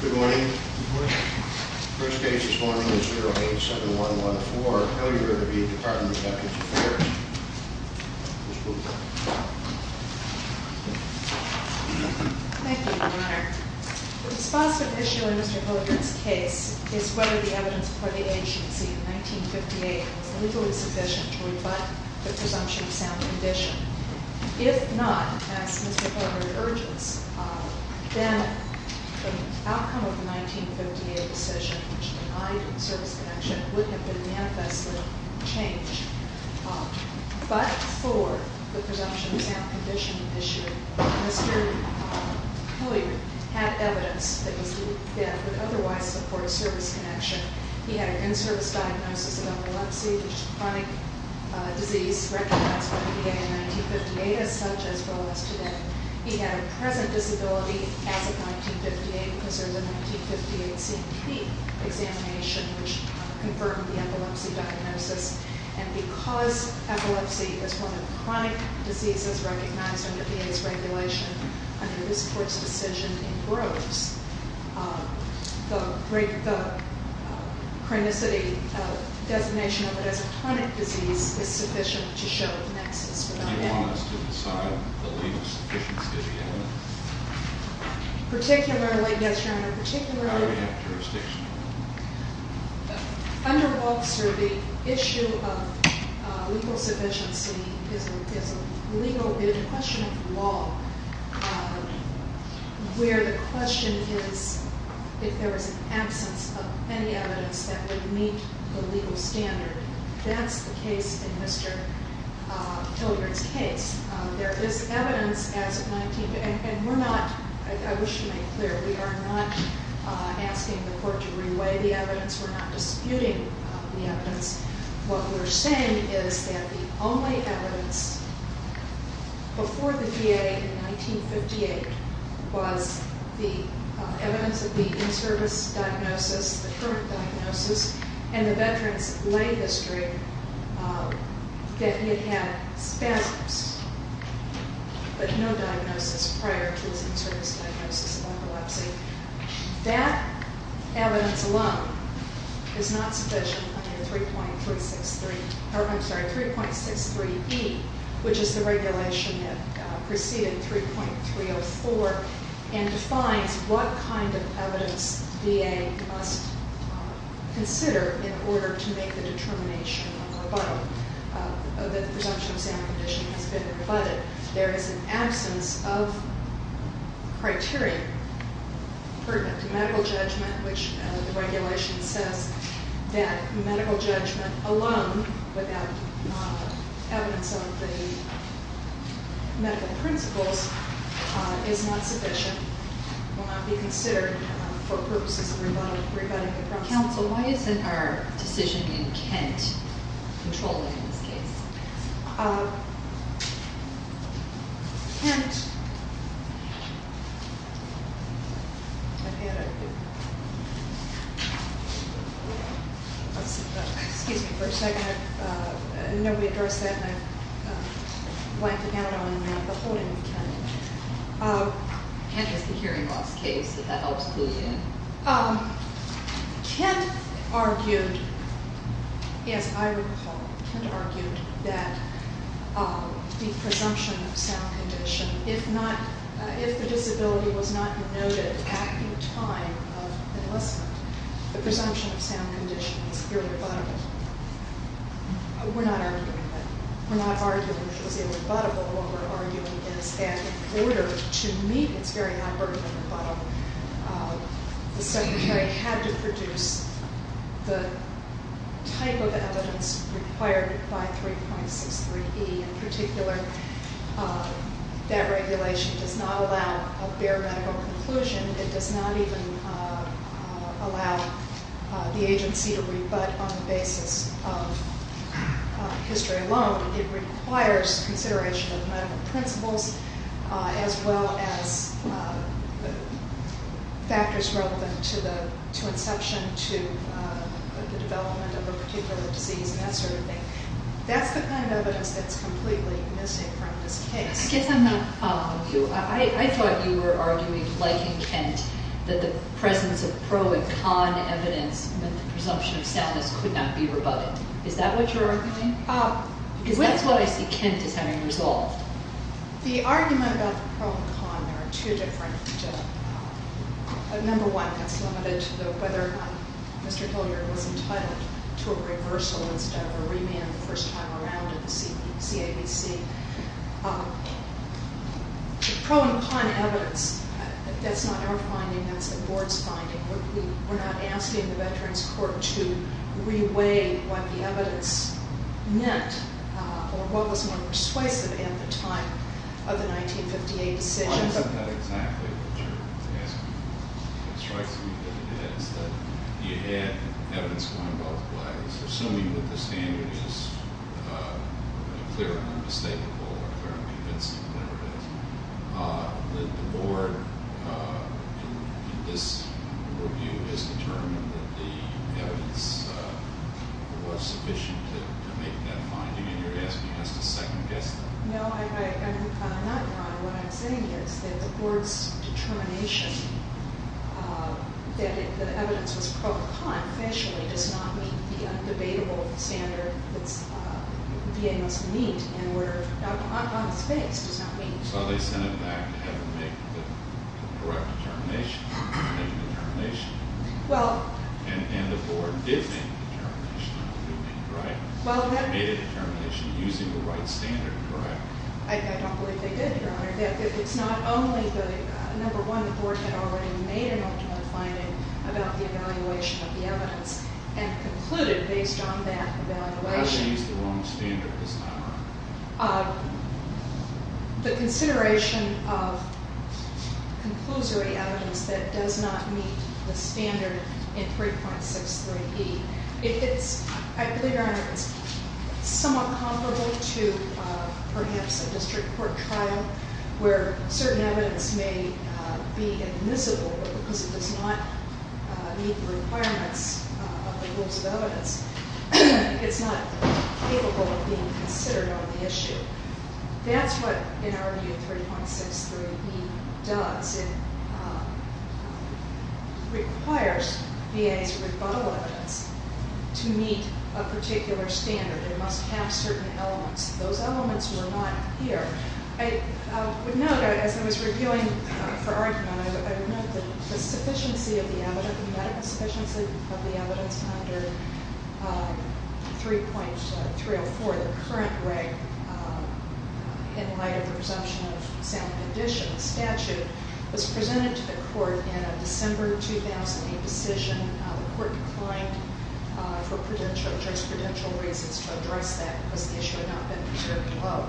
Good morning. The first case this morning is 087114, Hilliard v. Department of Justice Affairs. Ms. Blumenthal. Thank you, Your Honor. The responsive issue in Mr. Hilliard's case is whether the evidence before the agency in 1958 is legally sufficient to rebut the presumption of sound condition. If not, as Ms. McCormick urges, then the outcome of the 1958 decision, which denied a service connection, would have been manifestly changed. But for the presumption of sound condition issue, Mr. Hilliard had evidence that would otherwise support a service connection. He had an in-service diagnosis of epilepsy, which is a chronic disease recognized by the VA in 1958 as such, as well as today. He had a present disability as of 1958 because there was a 1958 CT examination which confirmed the epilepsy diagnosis. And because epilepsy is one of the chronic diseases recognized under VA's regulation, under this court's decision, it grows. The chronicity designation of it as a chronic disease is sufficient to show the nexus. Do you want us to decide the legal sufficiency of the evidence? Particularly, yes, Your Honor, particularly- How do we have jurisdiction? Under Wolf's survey, the issue of legal sufficiency is a question of law, where the question is if there was an absence of any evidence that would meet the legal standard. That's the case in Mr. Hilliard's case. There is evidence, and I wish to make clear, we are not asking the court to re-weigh the evidence. We're not disputing the evidence. What we're saying is that the only evidence before the VA in 1958 was the evidence of the in-service diagnosis, the current diagnosis, and the veteran's lay history that he had spasms, but no diagnosis prior to his in-service diagnosis of epilepsy. That evidence alone is not sufficient under 3.63E, which is the regulation that preceded 3.304, and defines what kind of evidence VA must consider in order to make the determination of rebuttal, that the presumption of sanity condition has been rebutted. There is an absence of criteria pertinent to medical judgment, which the regulation says that medical judgment alone without evidence of the medical principles is not sufficient, will not be considered for purposes of rebutting the presumption. Counsel, why isn't our decision in Kent controlling this case? Excuse me for a second. I know we addressed that, and I blanked out on the holding of Kent. Kent is the hearing loss case. Did that help you? Kent argued, as I recall, Kent argued that the presumption of sound condition, if the disability was not noted at the time of enlistment, the presumption of sound condition was irrebuttable. We're not arguing that. We're not arguing that it was irrebuttable. What we're arguing is that in order to meet its very high burden of rebuttal, the Secretary had to produce the type of evidence required by 3.63E. In particular, that regulation does not allow a bare medical conclusion. It does not even allow the agency to rebut on the basis of history alone. It requires consideration of medical principles as well as factors relevant to inception to the development of a particular disease and that sort of thing. That's the kind of evidence that's completely missing from this case. I guess I'm not following you. I thought you were arguing, like in Kent, that the presence of pro and con evidence meant the presumption of soundness could not be rebutted. Is that what you're arguing? Because that's what I see Kent as having resolved. The argument about the pro and con, there are two different... Number one, that's limited to whether Mr. Hilliard was entitled to a reversal instead of a remand the first time around in the CABC. The pro and con evidence, that's not our finding. That's the Board's finding. We're not asking the Veterans Court to re-weigh what the evidence meant or what was more persuasive at the time of the 1958 decision. Why is that exactly what you're asking? What strikes me is that you had evidence going both ways. Assuming that the standard is clear and unmistakable, or clear and convincing, whatever it is, the Board, in this review, has determined that the evidence was sufficient to make that finding. And you're asking us to second-guess that? No, I'm not, Your Honor. What I'm saying is that the Board's determination that the evidence was pro and con, does not meet the un-debatable standard that VA must meet in order... on its face, does not meet... So they sent it back to have it make the correct determination? Make a determination? Well... And the Board did make a determination, right? Made a determination using the right standard, correct? I don't believe they did, Your Honor. It's not only the... And concluded, based on that evaluation... How did they use the wrong standard this time around? The consideration of conclusory evidence that does not meet the standard in 3.63E. If it's... I believe, Your Honor, it's somewhat comparable to, perhaps, a district court trial, where certain evidence may be admissible, but because it does not meet the requirements of the rules of evidence, it's not capable of being considered on the issue. That's what, in our view, 3.63E does. It requires VA's rebuttal evidence to meet a particular standard. It must have certain elements. Those elements were not here. I would note, as I was reviewing for argument, I would note that the medical sufficiency of the evidence under 3.304, the current reg in light of the presumption of sound condition statute, was presented to the court in a December 2008 decision. The court declined for jurisprudential reasons to address that because the issue had not been considered below.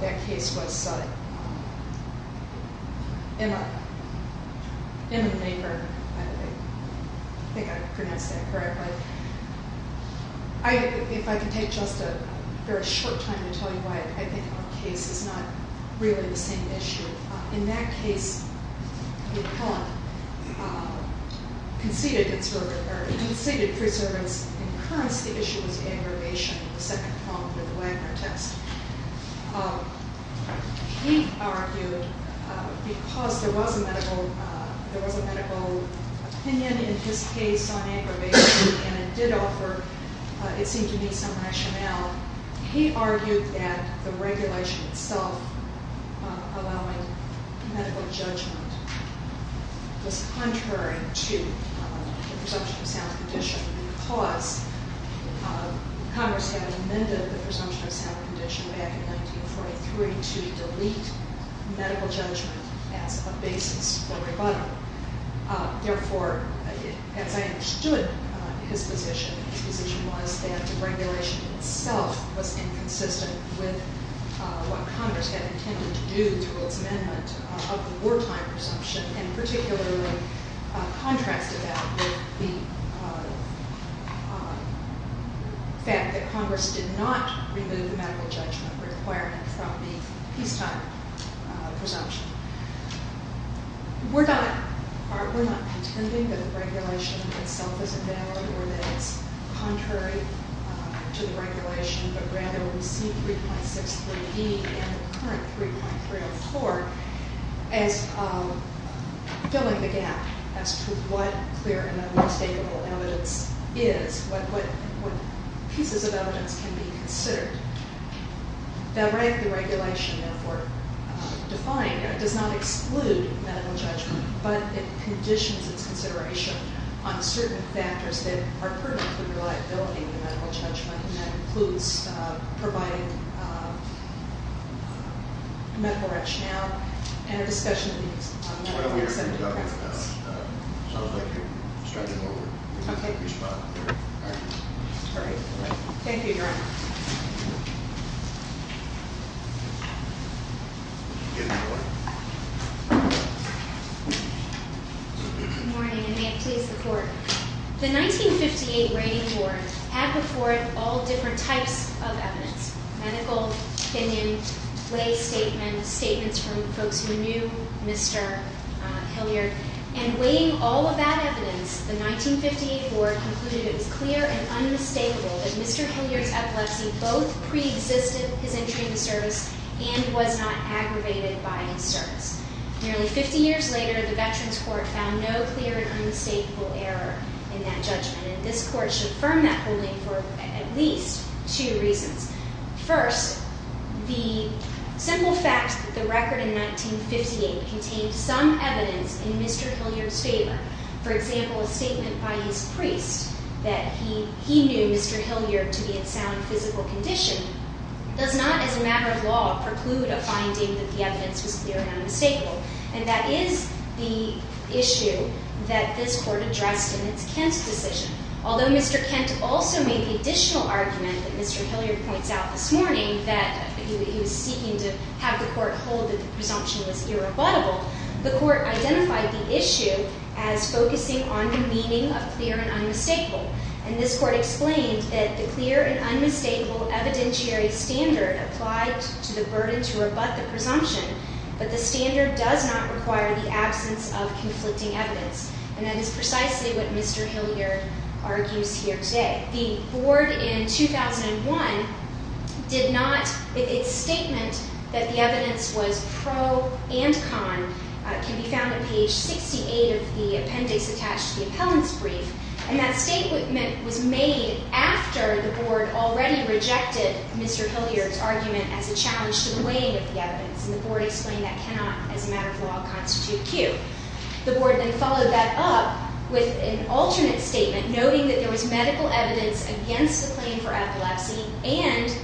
That case was in a neighborhood. I think I pronounced that correctly. If I could take just a very short time to tell you why, I think our case is not really the same issue. In that case, McClellan conceded preservance, because in current the issue was aggravation, the second problem with the Wagner test. He argued, because there was a medical opinion in his case on aggravation, and it did offer, it seemed to me, some rationale, he argued that the regulation itself allowing medical judgment was contrary to the presumption of sound condition because Congress had amended the presumption of sound condition back in 1943 to delete medical judgment as a basis for rebuttal. Therefore, as I understood his position, his position was that the regulation itself was inconsistent with what Congress had intended to do through its amendment of the wartime presumption, and particularly contrasted that with the fact that Congress did not remove the medical judgment requirement from the peacetime presumption. We're not contending that the regulation itself is invalid or that it's contrary to the regulation, but rather we see 3.63d and the current 3.304 as filling the gap as to what clear and unmistakable evidence is, what pieces of evidence can be considered. The regulation, therefore, defined does not exclude medical judgment, but it conditions its consideration on certain factors that are pertinent to the reliability of the medical judgment, and that includes providing a medical rationale and a discussion of the medical incentive process. It sounds like you're stretching over. Okay. You're spot on there. All right. All right. Thank you, Your Honor. Good morning, and may it please the Court. The 1958 rating board had before it all different types of evidence, medical opinion, lay statements, statements from folks who knew Mr. Hilliard, and weighing all of that evidence, the 1958 board concluded it was clear and unmistakable that Mr. Hilliard's epilepsy both preexisted his entry into service and was not aggravated by his service. Nearly 50 years later, the Veterans Court found no clear and unmistakable error in that judgment, and this Court should affirm that holding for at least two reasons. First, the simple fact that the record in 1958 contained some evidence in Mr. Hilliard's favor, for example, a statement by his priest that he knew Mr. Hilliard to be in sound physical condition, does not, as a matter of law, preclude a finding that the evidence was clear and unmistakable, and that is the issue that this Court addressed in its Kent decision. Although Mr. Kent also made the additional argument that Mr. Hilliard points out this morning that he was seeking to have the Court hold that the presumption was irrebuttable, the Court identified the issue as focusing on the meaning of clear and unmistakable, and this Court explained that the clear and unmistakable evidentiary standard applied to the burden to rebut the presumption, but the standard does not require the absence of conflicting evidence, and that is precisely what Mr. Hilliard argues here today. The Board in 2001 did not, its statement that the evidence was pro and con can be found on page 68 of the appendix attached to the appellant's brief, and that statement was made after the Board already rejected Mr. Hilliard's argument as a challenge to the weighing of the evidence, and the Board explained that cannot, as a matter of law, constitute Q. The Board then followed that up with an alternate statement noting that there was medical evidence against the claim for epilepsy and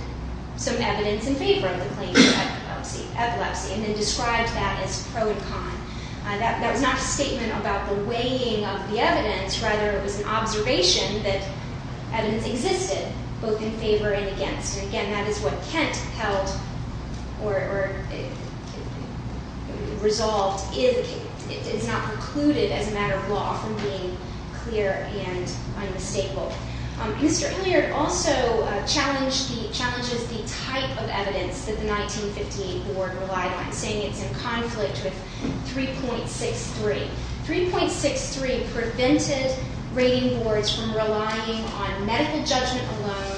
some evidence in favor of the claim for epilepsy, and then described that as pro and con. That was not a statement about the weighing of the evidence, rather it was an observation that evidence existed both in favor and against, and again, that is what Kent held or resolved is not precluded, as a matter of law, from being clear and unmistakable. Mr. Hilliard also challenges the type of evidence that the 1915 Board relied on, saying it's in conflict with 3.63. 3.63 prevented rating boards from relying on medical judgment alone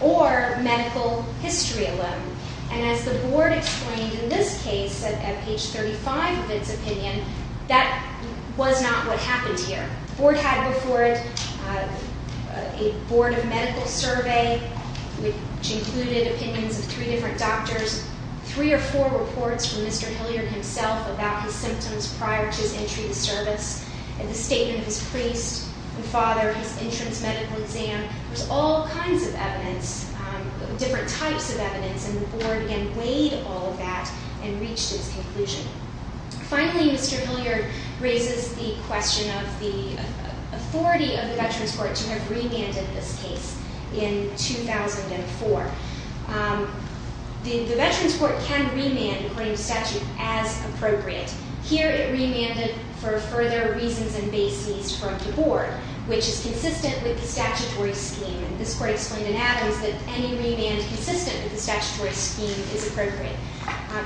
or medical history alone, and as the Board explained in this case at page 35 of its opinion, that was not what happened here. The Board had before it a Board of Medical Survey which included opinions of three different doctors, three or four reports from Mr. Hilliard himself about his symptoms prior to his entry into service, and the statement of his priest and father, his entrance medical exam. There was all kinds of evidence, different types of evidence, and the Board again weighed all of that and reached its conclusion. Finally, Mr. Hilliard raises the question of the authority of the Veterans Court to have remanded this case in 2004. The Veterans Court can remand, according to statute, as appropriate. Here it remanded for further reasons and bases from the Board, which is consistent with the statutory scheme, and this Court explained in Adams that any remand consistent with the statutory scheme is appropriate.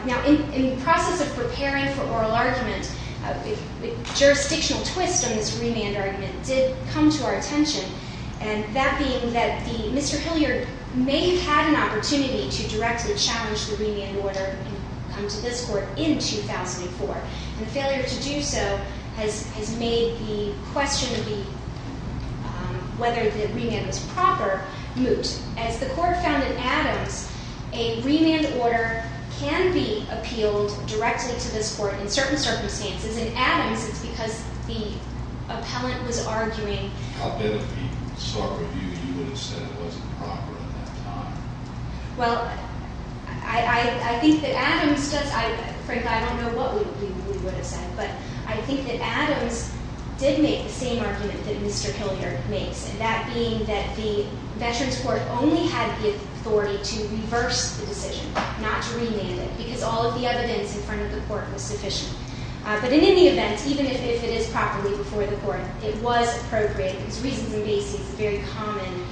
Now, in the process of preparing for oral argument, a jurisdictional twist on this remand argument did come to our attention, and that being that Mr. Hilliard may have had an opportunity to directly challenge the remand order and come to this Court in 2004, and the failure to do so has made the question of whether the remand was proper moot. As the Court found in Adams, a remand order can be appealed directly to this Court in certain circumstances. In Adams, it's because the appellant was arguing I'll bet if we start with you, you would have said it wasn't proper at that time. Well, I think that Adams does. Frank, I don't know what we would have said, but I think that Adams did make the same argument that Mr. Hilliard makes, and that being that the Veterans Court only had the authority to reverse the decision, not to remand it, because all of the evidence in front of the Court was sufficient. But in any event, even if it is properly before the Court, it was appropriate because reasons in basis is a very common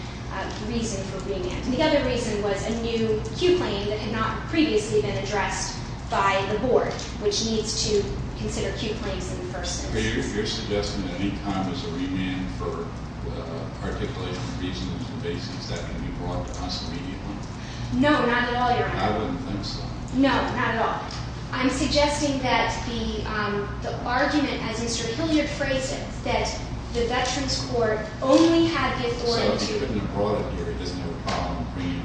reason for remand. And the other reason was a new Q claim that had not previously been addressed by the Board, which needs to consider Q claims in the first instance. Are you suggesting that any time there's a remand for articulating reasons in basis, that can be brought to us immediately? No, not at all, Your Honor. I wouldn't think so. No, not at all. I'm suggesting that the argument as Mr. Hilliard phrased it, that the Veterans Court only had the authority to So if it could be brought here, it doesn't have a problem bringing it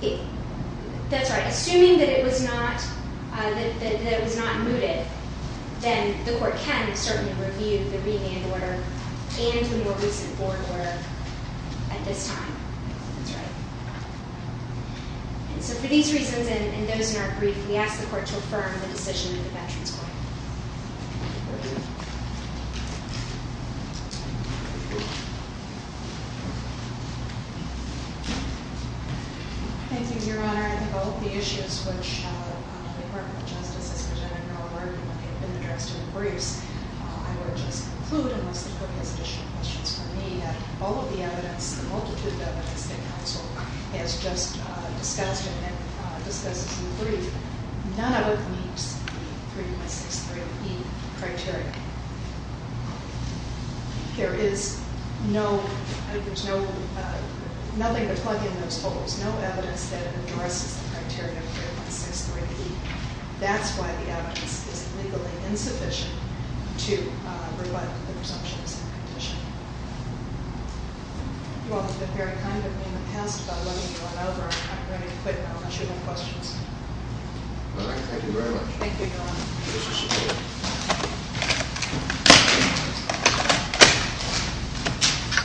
here now? That's right. Assuming that it was not mooted, then the Court can certainly review the remand order and the more recent Board order at this time. That's right. And so for these reasons and those in our brief, we ask the Court to affirm the decision of the Veterans Court. Thank you, Your Honor. I think all of the issues which the Department of Justice has presented in our work and have been addressed in the briefs, I would just conclude, unless the Court has additional questions for me, that all of the evidence, the multitude of evidence that counsel has just discussed and discusses in the brief, none of it meets the 3163E criteria. There is no, there's nothing to plug in those holes. No evidence that endorses the criteria of 3163E. That's why the evidence is legally insufficient to rebut the presumption of some condition. You all have been very kind to me in the past by letting me run over. I'm going to quit now. I shouldn't have questions. All right. Thank you very much. Thank you, Your Honor.